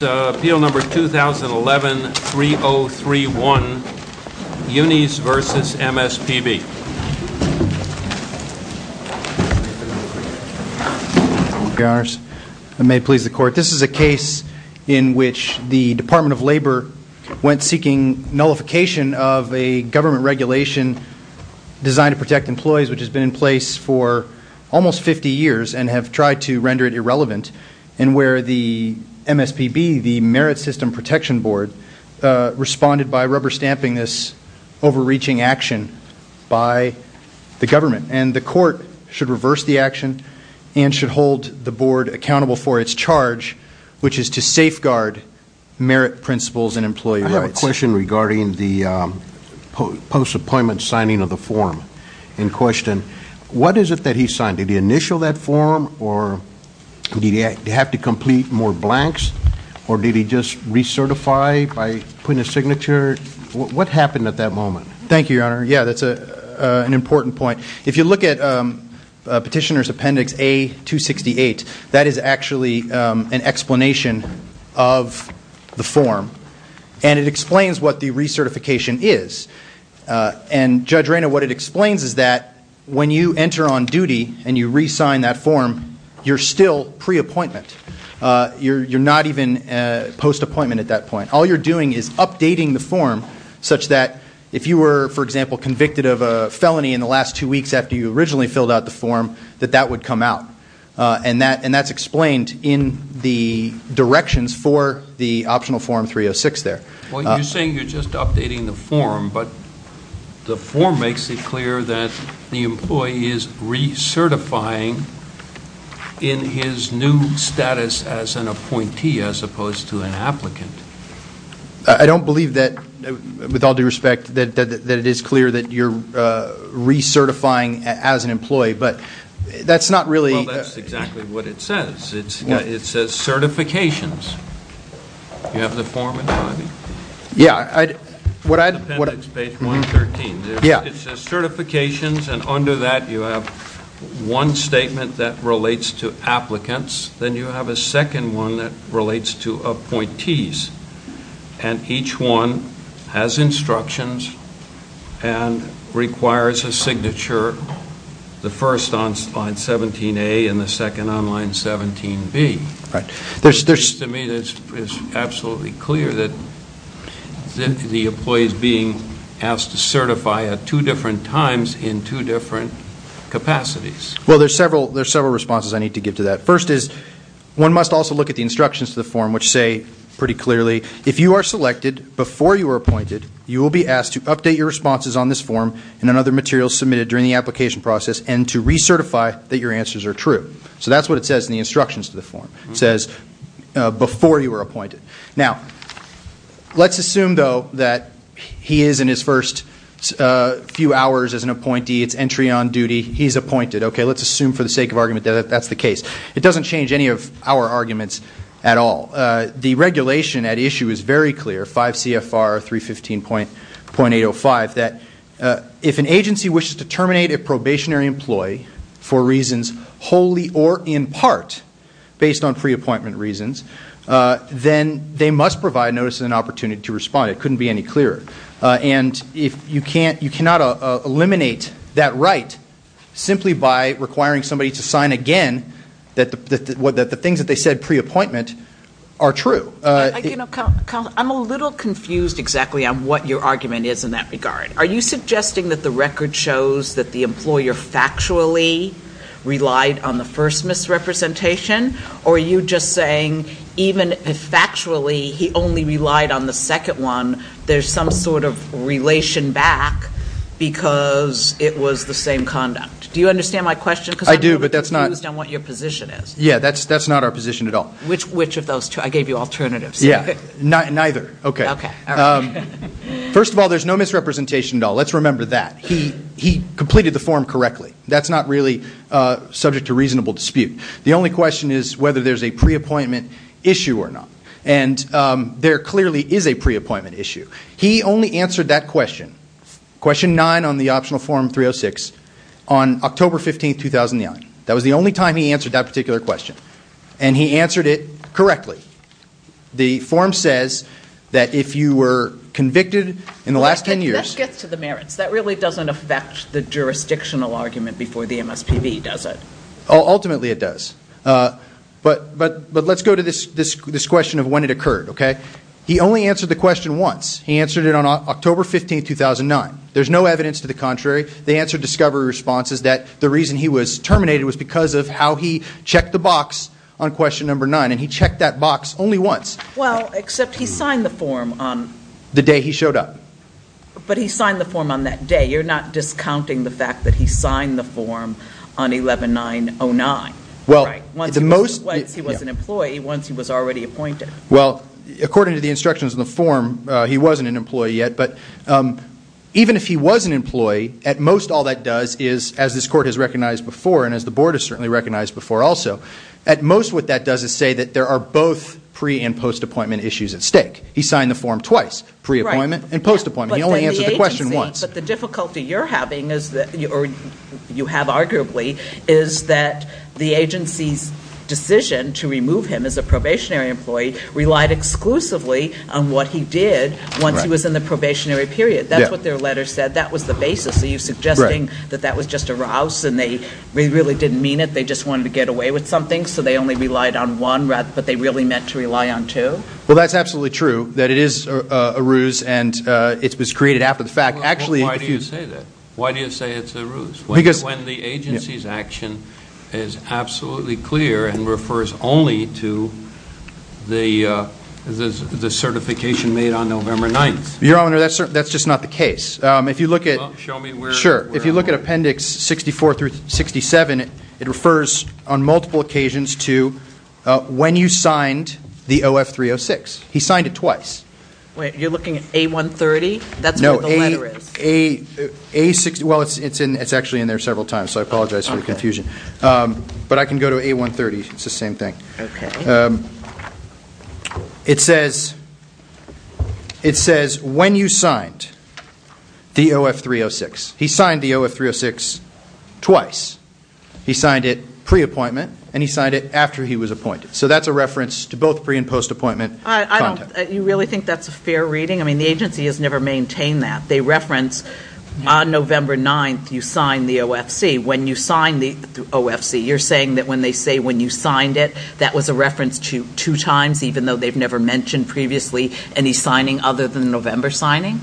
This is a case in which the Department of Labor went seeking nullification of a government regulation designed to protect employees which has been in place for almost 50 years and have tried to render it irrelevant and where the MSPB, the Merit System Protection Board, responded by rubber stamping this overreaching action by the government. And the court should reverse the action and should hold the board accountable for its charge which is to safeguard merit principles in employee rights. I have a question regarding the post-appointment signing of the form in question. What is it that he signed? Did he initial that form or did he have to complete more blanks or did he just recertify by putting a signature? What happened at that moment? Thank you, Your Honor. Yeah, that's an important point. If you look at Petitioner's Appendix A-268, that is actually an explanation of the form and it explains what the recertification is. And, Judge Rayner, what it explains is that when you enter on duty and you re-sign that form, you're still pre-appointment. You're not even post-appointment at that point. All you're doing is updating the form such that if you were, for example, convicted of a felony in the last two weeks after you originally filled out the form, that that would come out. And that's explained in the directions for the Optional Form 306 there. Well, you're saying you're just updating the form, but the form makes it clear that the employee is recertifying in his new status as an appointee as opposed to an applicant. I don't believe that, with all due respect, that it is clear that you're recertifying as an employee, but that's not really... Well, that's exactly what it says. It says certifications. You have the form in front of you? Yeah, what I... Appendix page 113. It says certifications and under that you have one statement that relates to applicants, then you have a second one that relates to appointees. And each one has instructions and requires a signature, the first on line 17A and the second on line 17B. To me, it's absolutely clear that the employee is being asked to certify at two different times in two different capacities. Well, there's several responses I need to give to that. First is, one must also look at the instructions to the form, which say pretty clearly, if you are selected before you were appointed, you will be asked to update your responses on this form and on other materials submitted during the application process and to recertify that your answers are true. So that's what it says in the instructions to the form. It says before you were appointed. Now, let's assume though that he is in his first few hours as an appointee, it's entry on duty, he's appointed. Okay, let's assume for the sake of argument that that's the case. It doesn't change any of our arguments at all. The regulation at issue is very clear, 5 CFR 315.805, that if an agency wishes to terminate a probationary employee for reasons wholly or in part based on pre-appointment reasons, then they must provide notice and opportunity to respond. It couldn't be any clearer. And you cannot eliminate that right simply by requiring somebody to sign again that the things that they said pre-appointment are true. I'm a little confused exactly on what your argument is in that regard. Are you suggesting that the record shows that the employer factually relied on the first misrepresentation? Or are you just saying even if factually he only relied on the second one, there's some sort of relation back because it was the same conduct? Do you understand my question? I do, but that's not I'm a little confused on what your position is. Yeah, that's not our position at all. Which of those two? I gave you alternatives. Yeah, neither. Okay. First of all, there's no misrepresentation at all. Let's remember that. He completed the form correctly. That's not really subject to reasonable dispute. The only question is whether there's a pre-appointment issue or not. And there clearly is a pre-appointment issue. He only answered that question, question nine on the optional form 306, on October 15, 2009. That was the only time he answered that particular question. And he answered it correctly. The form says that if you were convicted in the last ten years That gets to the merits. That really doesn't affect the jurisdictional argument before the MSPB, does it? Ultimately, it does. But let's go to this question of when it occurred, okay? He only answered the question once. He answered it on October 15, 2009. There's no evidence to the contrary. They answered discovery responses that the reason he was terminated was because of how he checked the box on question number nine. And he checked that box only once. Well, except he signed the form on The day he showed up. But he signed the form on that day. You're not discounting the fact that he signed the form on 11-9-09, right? Once he was an employee, once he was already appointed. Well, according to the instructions in the form, he wasn't an employee yet. But even if he was an employee, at most all that does is, as this court has recognized before and as the board has certainly recognized before also, at most what that does is say that there are both pre- and post-appointment issues at stake. He signed the form twice, pre-appointment and post-appointment. He only answered the question once. But the difficulty you're having, or you have arguably, is that the agency's decision to relied exclusively on what he did once he was in the probationary period. That's what their letter said. That was the basis. Are you suggesting that that was just a rouse and they really didn't mean it? They just wanted to get away with something? So they only relied on one, but they really meant to rely on two? Well, that's absolutely true. That it is a ruse and it was created after the fact. Actually, Why do you say that? Why do you say it's a ruse? When the agency's action is absolutely clear and refers only to the certification made on November 9th. Your Honor, that's just not the case. If you look at Appendix 64 through 67, it refers on multiple occasions to when you signed the OF-306. He signed it twice. Wait, you're looking at A-130? That's where the letter is? No, it's actually in there several times, so I apologize for the confusion. But I can go to A-130. It's the same thing. It says when you signed the OF-306. He signed the OF-306 twice. He signed it pre-appointment and he signed it after he was appointed. So that's a reference to both pre- and post-appointment. You really think that's a fair reading? I mean, the agency has never maintained that. They reference on November 9th you signed the OFC. When you signed the OFC, you're saying that when they say when you signed it, that was a reference to two times, even though they've never mentioned previously any signing other than November signing?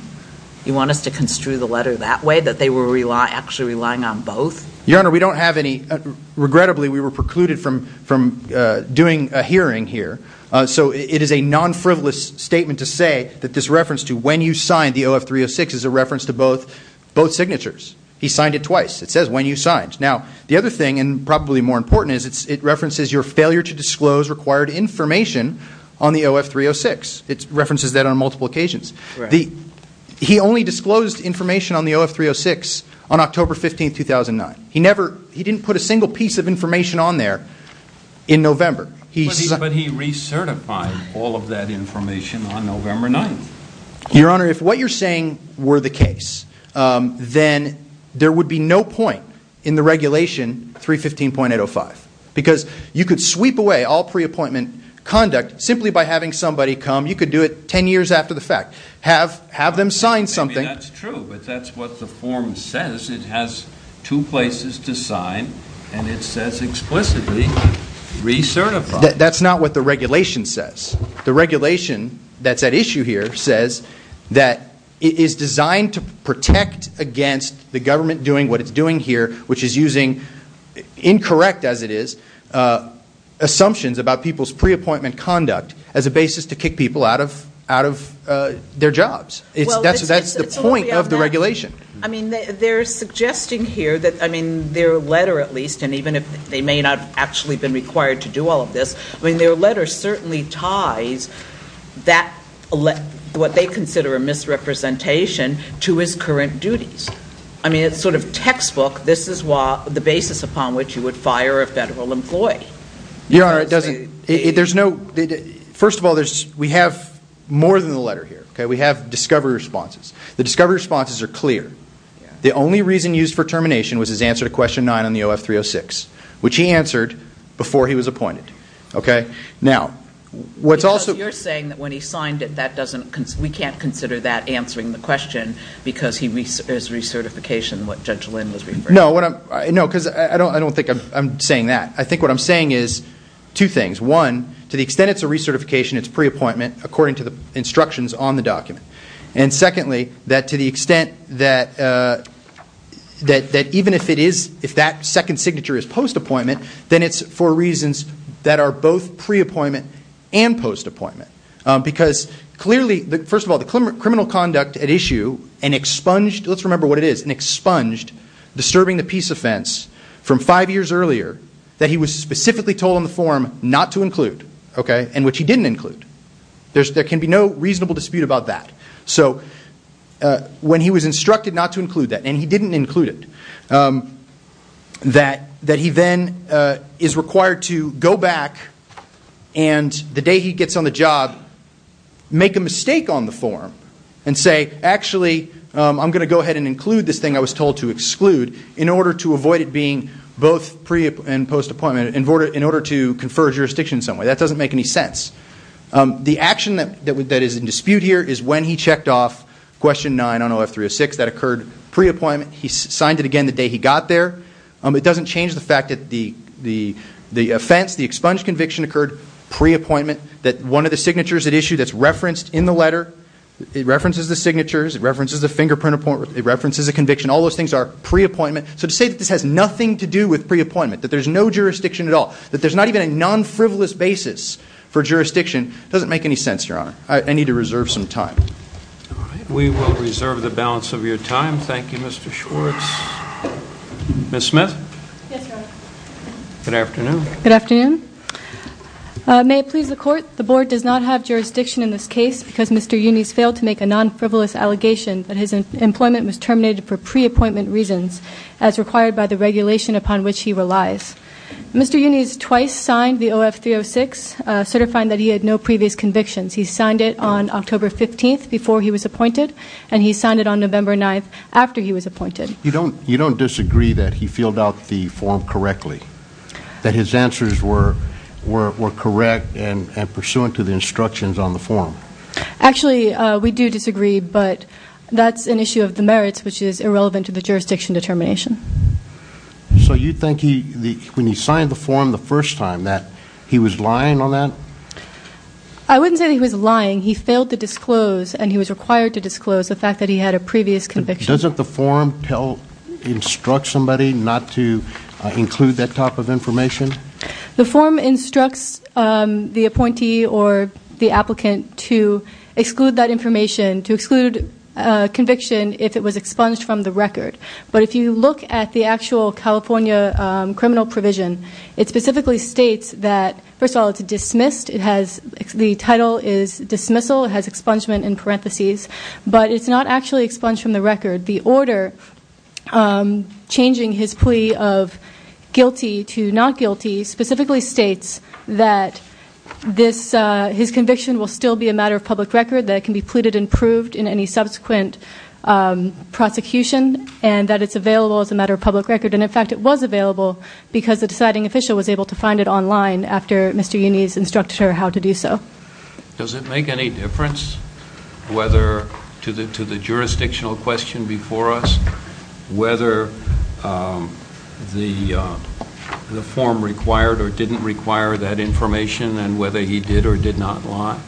You want us to construe the letter that way, that they were actually relying on both? Your Honor, we don't have any. Regrettably, we were precluded from doing a hearing here. So it is a non-frivolous statement to say that this reference to when you signed the OF-306 is a reference to both signatures. He signed it twice. It says when you signed. Now, the other thing and probably more important is it references your failure to disclose required information on the OF-306. It references that on multiple occasions. He only disclosed information on the OF-306 on October 15th, 2009. He didn't put a single piece of information on there in November. But he recertified all of that information on November 9th. Your Honor, if what you're saying were the case, then there would be no point in the regulation 315.805 because you could sweep away all pre-appointment conduct simply by having somebody come. You could do it ten years after the fact. Have them sign something. Maybe that's true, but that's what the form says. It has two places to sign and it says explicitly recertify. That's not what the regulation says. The is designed to protect against the government doing what it's doing here, which is using incorrect, as it is, assumptions about people's pre-appointment conduct as a basis to kick people out of their jobs. That's the point of the regulation. I mean, they're suggesting here that their letter, at least, and even if they may not have actually been required to do all of this, their letter certainly ties that what they consider a misrepresentation to his current duties. I mean, it's sort of textbook. This is the basis upon which you would fire a federal employee. Your Honor, it doesn't. First of all, we have more than the letter here. We have discovery responses. The discovery responses are clear. The only reason used for termination was his answer to question 9 on the OF306, which he answered before he was appointed. Because you're saying that when he signed it, we can't consider that answering the question because he is recertification, what Judge Lynn was referring to. No, because I don't think I'm saying that. I think what I'm saying is two things. One, to the extent it's a recertification, it's pre-appointment according to the instructions on the document. And secondly, that to the extent that even if that second signature is post-appointment, then it's for reasons that are both pre-appointment and post-appointment. Because clearly, first of all, the criminal conduct at issue, and expunged, let's remember what it is, and expunged disturbing the peace offense from five years earlier that he was specifically told on the form not to include, okay, and which he didn't include. There can be no reasonable dispute about that. So when he was instructed not to include that, and he didn't include it, that he then is required to go back and the day he gets on the job, make a mistake on the form and say, actually, I'm going to go ahead and include this thing I was told to exclude in order to avoid it being both pre- and post-appointment, in order to confer jurisdiction in some way. That doesn't make any sense. The action that is in dispute here is when he checked off question nine on OF306, that occurred pre-appointment. He signed it again the day he got there. It doesn't change the fact that the offense, the expunged conviction occurred pre-appointment, that one of the signatures at issue that's referenced in the letter, it references the signatures, it references the fingerprint appointment, it references the conviction. All those things are pre-appointment. So to say that this has nothing to do with pre-appointment, that there's no jurisdiction at all, that there's not even a non-frivolous basis for jurisdiction doesn't make any sense, Your Honor. I need to reserve some time. We will reserve the balance of your time. Thank you, Mr. Schwartz. Ms. Smith? Yes, Your Honor. Good afternoon. Good afternoon. May it please the Court, the Board does not have jurisdiction in this case because Mr. Unes failed to make a non-frivolous allegation that his employment was terminated for pre-appointment reasons, as required by the regulation upon which he relies. Mr. Unes twice signed the OF306, certifying that he had no previous convictions. He signed it on October 15th before he was appointed, and he signed it on November 9th after he was appointed. You don't disagree that he filled out the form correctly, that his answers were correct and pursuant to the instructions on the form? Actually, we do disagree, but that's an issue of the merits, which is irrelevant to the jurisdiction determination. So you think he, when he signed the form the first time, that he was lying on that? I wouldn't say that he was lying. He failed to disclose, and he was required to disclose, the fact that he had a previous conviction. Doesn't the form tell, instruct somebody not to include that type of information? The form instructs the appointee or the applicant to exclude that information, to exclude a conviction if it was expunged from the record. But if you look at the actual California criminal provision, it specifically states that, first of all, it's dismissed. The title is dismissal. It has expungement in parentheses, but it's not actually expunged from the record. The order changing his plea of guilty to not guilty specifically states that his conviction will still be a matter of public record, that it can be pleaded and proved in any subsequent prosecution, and that it's available as a matter of public record. And in fact, it was available because the deciding official was able to find it online after Mr. Unni's instructed her how to do so. Does it make any difference whether, to the jurisdictional question before us, whether the form required or didn't require that information and whether he did or did not lie?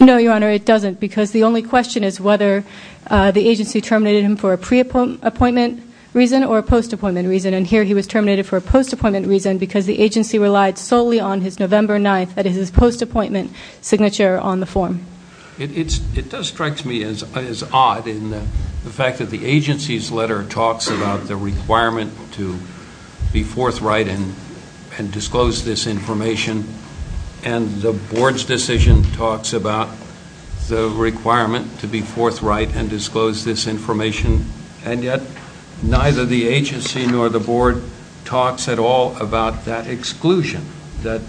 No, Your Honor, it doesn't because the only question is whether the agency terminated him for a pre-appointment reason or a post-appointment reason. And here he was terminated for a post-appointment reason because the agency relied solely on his November 9th, that is his post-appointment signature, on the form. It does strike me as odd in the fact that the agency's letter talks about the requirement to be forthright and disclose this information and the Board's decision talks about the requirement to be forthright and disclose this information, and yet neither the agency nor the Board talks at all about that exclusion, that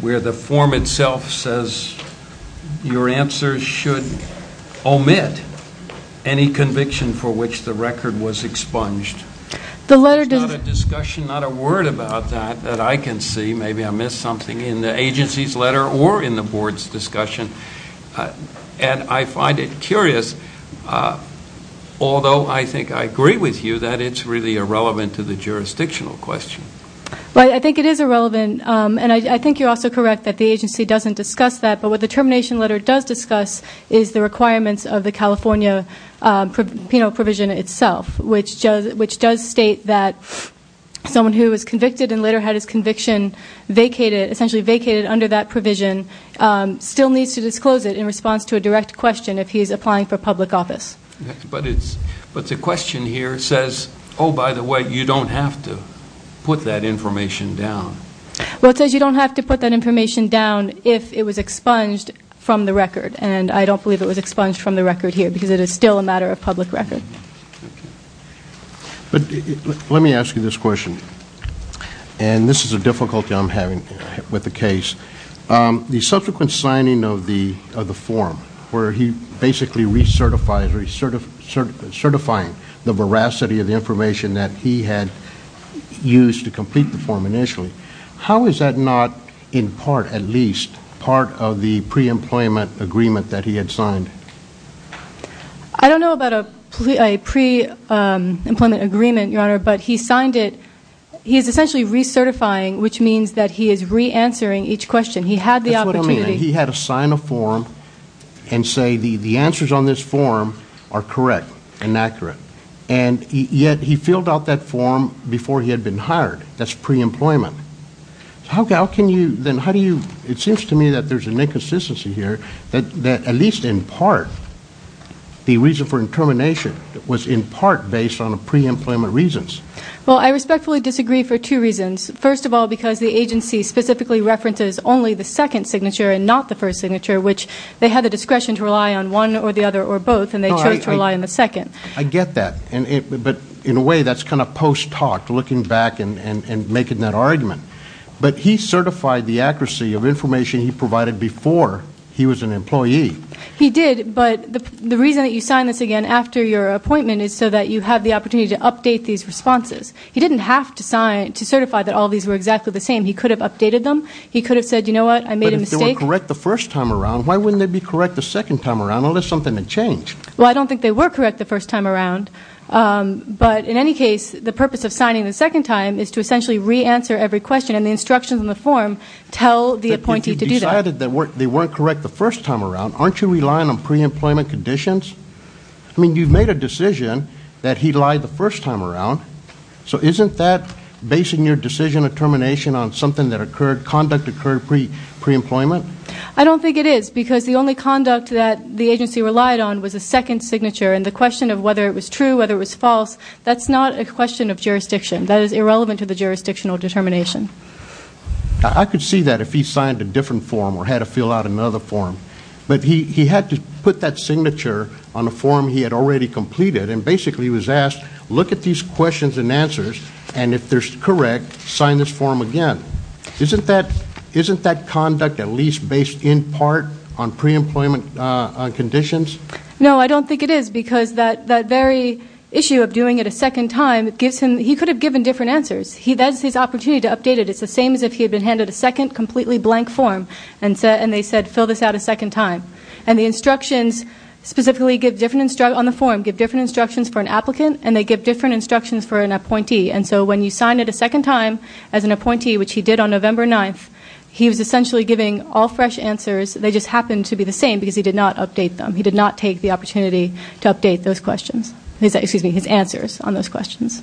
where the form itself says your answer should omit any conviction for which the record was expunged. There's not a discussion, not a word about that that I can see. Maybe I missed something in the agency's letter or in the Board's discussion, and I find it curious, although I think I agree with you that it's really irrelevant, and I think you're also correct that the agency doesn't discuss that, but what the termination letter does discuss is the requirements of the California Penal Provision itself, which does state that someone who was convicted and later had his conviction essentially vacated under that provision still needs to disclose it in response to a direct question if he's applying for public office. But the question here says, oh, by the way, you don't have to put that information down. Well, it says you don't have to put that information down if it was expunged from the record, and I don't believe it was expunged from the record here because it is still a matter of public record. But let me ask you this question, and this is a difficulty I'm having with the case. The attorney is certifying the veracity of the information that he had used to complete the form initially. How is that not, in part at least, part of the pre-employment agreement that he had signed? I don't know about a pre-employment agreement, Your Honor, but he signed it he's essentially recertifying, which means that he is re-answering each question. He had the opportunity he had to sign a form and say the answers on this form are correct and accurate, and yet he filled out that form before he had been hired. That's pre-employment. How can you, then how do you, it seems to me that there's an inconsistency here that at least in part the reason for intermination was in part based on pre-employment reasons. Well, I respectfully disagree for two reasons. First of all, because the agency specifically references only the second signature and not the first signature, which they had the discretion to rely on one or the other or both, and they chose to rely on the second. I get that, but in a way that's kind of post-talk, looking back and making that argument. But he certified the accuracy of information he provided before he was an employee. He did, but the reason that you signed this again after your appointment is so that you have the opportunity to update these responses. He didn't have to sign to certify that all these were exactly the same. He could have updated them. He could have said, you know what, I made a mistake. But if they were correct the first time around, why wouldn't they be correct the second time around unless something had changed? Well, I don't think they were correct the first time around. But in any case, the purpose of signing the second time is to essentially re-answer every question and the instructions on the form tell the appointee to do that. But if he decided that they weren't correct the first time around, aren't you relying on pre-employment conditions? I mean, you've made a decision that he lied the first time around. So isn't that basing your decision of termination on something that occurred, conduct occurred pre-employment? I don't think it is because the only conduct that the agency relied on was the second signature. And the question of whether it was true, whether it was false, that's not a question of jurisdiction. That is irrelevant to the jurisdictional determination. I could see that if he signed a different form or had to fill out another form. But he had to put that signature on a form he had already completed and basically was asked, look at these questions and answers and if they're correct, sign this form again. Isn't that conduct at least based in part on pre-employment conditions? No, I don't think it is because that very issue of doing it a second time, he could have given different answers. That's his opportunity to update it. It's the same as if he had been handed a second completely blank form and they said fill this out a second time. And the instructions specifically on the form give different instructions for an applicant and they give different instructions for an appointee. And so when you sign it a second time as an appointee, which he did on November 9th, he was essentially giving all fresh answers, they just happened to be the same because he did not update them. He did not take the opportunity to update those questions, excuse me, his answers on those questions.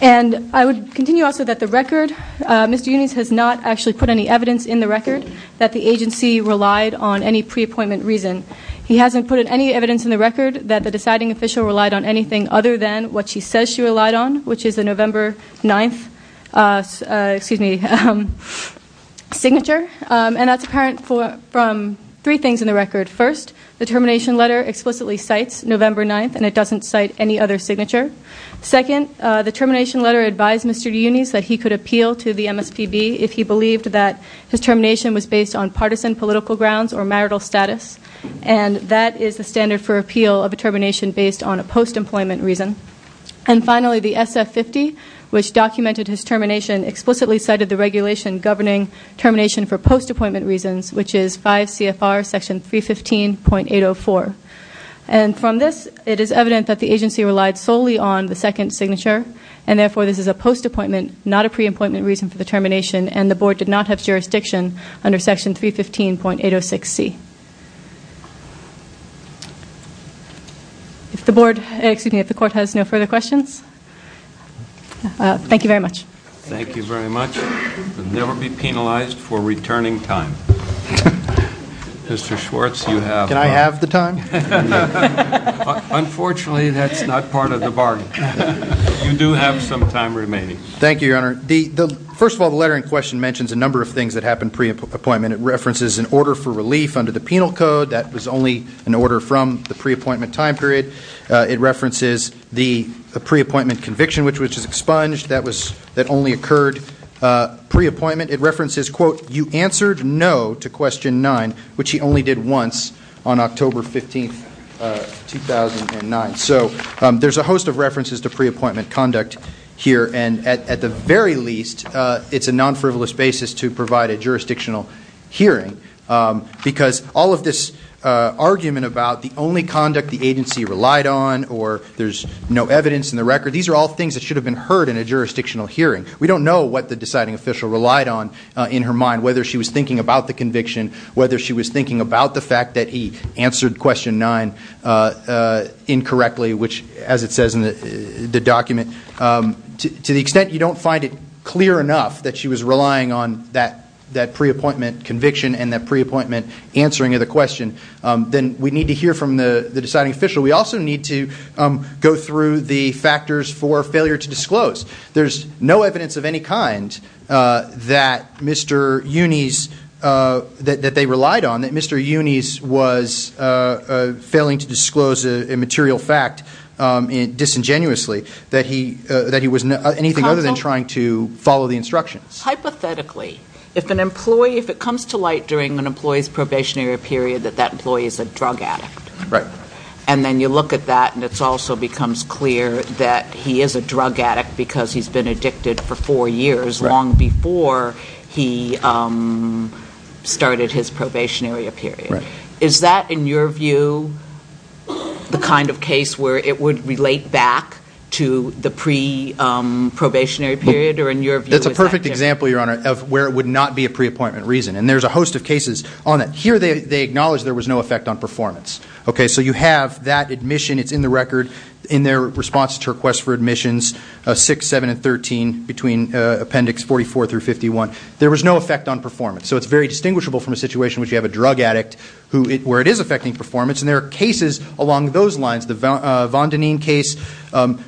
And I would continue also that the record, Mr. Eunice has not actually put any evidence in the record that the agency relied on any pre-appointment reason. He hasn't put any evidence in the record that the deciding official relied on anything other than what she says she relied on, which is the November 9th signature. And that's apparent from three things in the record. First, the termination letter explicitly cites November 9th and it doesn't cite any other signature. Second, the termination letter advised Mr. Eunice that he could appeal to the MSPB if he believed that his termination was based on partisan political grounds or marital status. And that is the standard for appeal of a termination based on a post-employment reason. And finally, the SF-50, which documented his termination, explicitly cited the regulation governing termination for post-appointment reasons, which is 5 CFR section 315.804. And from this, it is evident that the agency relied solely on the second signature and therefore this is a post-appointment, not a pre-appointment reason for the termination and the board did not have jurisdiction under section 315.806C. If the board, excuse me, if the court has no further questions. Thank you very much. Thank you very much. Never be penalized for returning time. Mr. Schwartz, you have time. Can I have the time? You do have some time remaining. Thank you, Your Honor. First of all, the letter in question mentions a number of things that happened pre-appointment. It references an order for relief under the penal code. That was only an order from the pre-appointment time period. It references the pre-appointment conviction, which was expunged. That only occurred pre-appointment. It references, quote, you answered no to question 9, which he only did once on October 15, 2009. So there's a host of references to pre-appointment conduct here. And at the very least, it's a non-frivolous basis to provide a jurisdictional hearing because all of this argument about the only conduct the agency relied on or there's no evidence in the record, these are all things that should have been heard in a jurisdictional hearing. We don't know what the deciding official relied on in her mind, whether she was thinking about the conviction, whether she was thinking about the fact that he answered question 9 incorrectly, which, as it says in the document, to the extent you don't find it clear enough that she was relying on that pre-appointment conviction and that pre-appointment answering of the question, then we need to hear from the deciding official. We also need to go through the factors for failure to disclose. There's no evidence of any kind that Mr. Unis, that they relied on, that Mr. Unis was failing to disclose a material fact disingenuously, that he was anything other than trying to follow the instructions. Hypothetically, if an employee, if it comes to light during an employee's probationary period that that employee is a drug addict, and then you look at that and it also becomes clear that he is a drug addict because he's been addicted for four years long before he started his probationary period, is that, in your view, the kind of case where it would relate back to the fact to the pre-probationary period, or in your view is that different? That's a perfect example, Your Honor, of where it would not be a pre-appointment reason, and there's a host of cases on that. Here they acknowledge there was no effect on performance. So you have that admission, it's in the record, in their response to requests for admissions, 6, 7, and 13, between appendix 44 through 51, there was no effect on performance. So it's very distinguishable from a situation in which you have a drug addict where it is affecting performance, and there are cases along those lines, the Vondanin case,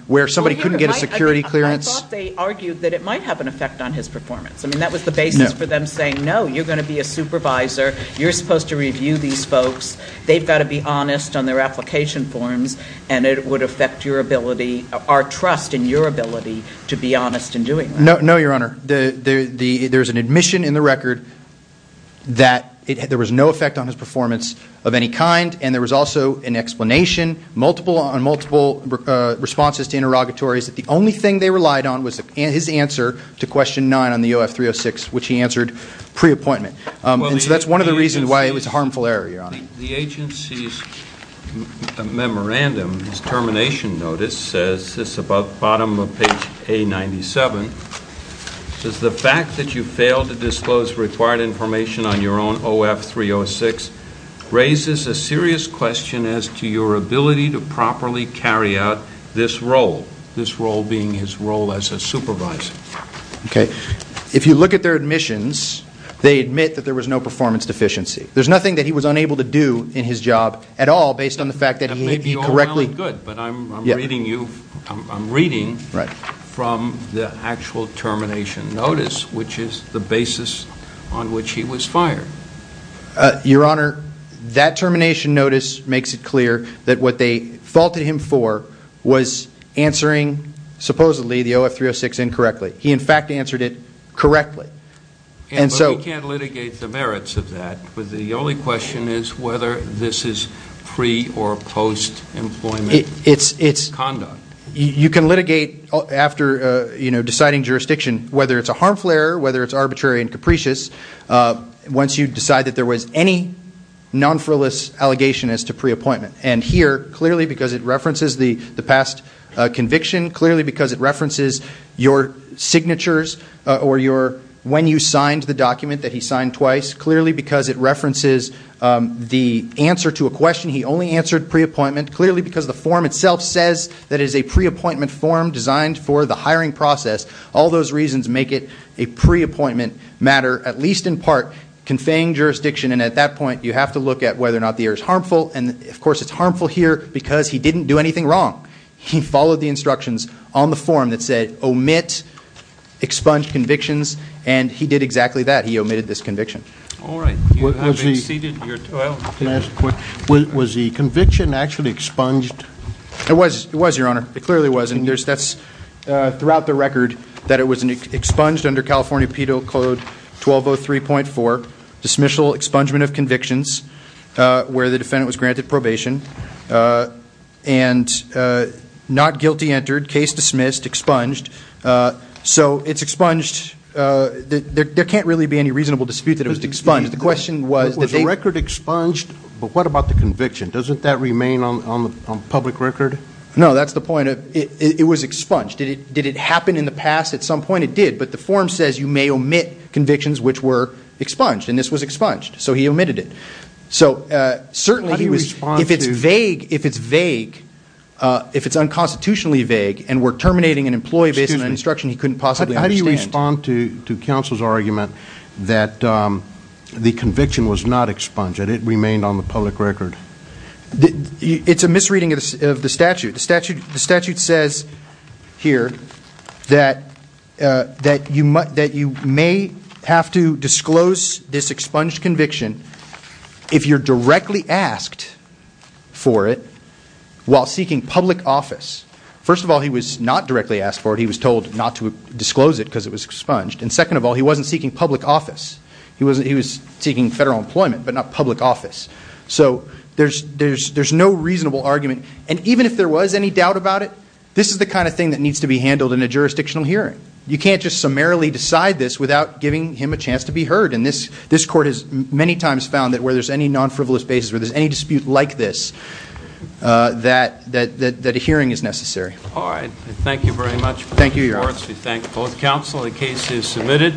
where somebody couldn't get a security clearance. I thought they argued that it might have an effect on his performance. I mean, that was the basis for them saying, no, you're going to be a supervisor, you're supposed to review these folks, they've got to be honest on their application forms, and it would affect your ability, our trust in your ability to be honest in doing that. No, Your Honor, there's an admission in the record that there was no effect on his performance of any kind, and there was also an explanation on multiple responses to interrogatories that the only thing they relied on was his answer to question 9 on the OF-306, which he answered pre-appointment. So that's one of the reasons why it was a harmful error, Your Honor. The agency's memorandum, his termination notice, says this about the bottom of page A-97, says the fact that you failed to disclose required information on your own OF-306 raises a serious question as to your ability to properly carry out this role, this role being his role as a supervisor. If you look at their admissions, they admit that there was no performance deficiency. There's nothing that he was unable to do in his job at all based on the fact that he correctly... That may be all well and good, but I'm reading from the actual termination notice, which is the basis on which he was fired. Your Honor, that termination notice makes it clear that what they faulted him for was answering, supposedly, the OF-306 incorrectly. He, in fact, answered it correctly. But we can't litigate the merits of that. The only question is whether this is pre- or post-employment conduct. You can litigate after deciding jurisdiction, whether it's a harmful error, whether it's arbitrary and capricious, once you decide that there was any non-frivolous allegation as to pre-appointment. And here, clearly because it references the past conviction, clearly because it references your signatures or when you signed the document that he signed twice, clearly because it references the answer to a question he only answered pre-appointment, clearly because the form itself says that it is a pre-appointment form designed for the hiring process. All those reasons make it a pre-appointment matter, at least in part, conveying jurisdiction. And at that point, you have to look at whether or not the error is harmful. And, of course, it's harmful here because he didn't do anything wrong. He followed the instructions on the form that said, omit expunged convictions. And he did exactly that. He omitted this conviction. Was the conviction actually expunged? It was, Your Honor. It clearly was. And that's throughout the record that it was expunged under California Penal Code 1203.4, Dismissal Expungement of Convictions, where the defendant was granted probation and not guilty entered, case dismissed, expunged. So it's expunged. There can't really be any reasonable dispute that it was expunged. Was the record expunged? But what about the conviction? Doesn't that remain on the public record? No, that's the point. It was expunged. Did it happen in the past? At some point it did. But the form says you may omit convictions which were expunged. And this was expunged. So he omitted it. So certainly if it's vague, if it's unconstitutionally vague and we're terminating an employee based on an instruction he couldn't possibly understand. How do you respond to counsel's argument that the conviction was not expunged and it remained on the public record? It's a misreading of the statute. The statute says here that you may have to disclose this expunged conviction if you're directly asked for it while seeking public office. First of all, he was not directly asked for it. He was told not to disclose it because it was expunged. And second of all, he wasn't seeking public office. He was seeking federal employment, but not public office. So there's no reasonable argument. And even if there was any doubt about it, this is the kind of thing that needs to be handled in a jurisdictional hearing. You can't just summarily decide this without giving him a chance to be heard. And this court has many times found that where there's any non-frivolous basis, where there's any dispute like this, that a hearing is necessary. Thank you very much. We thank both counsel. The case is submitted.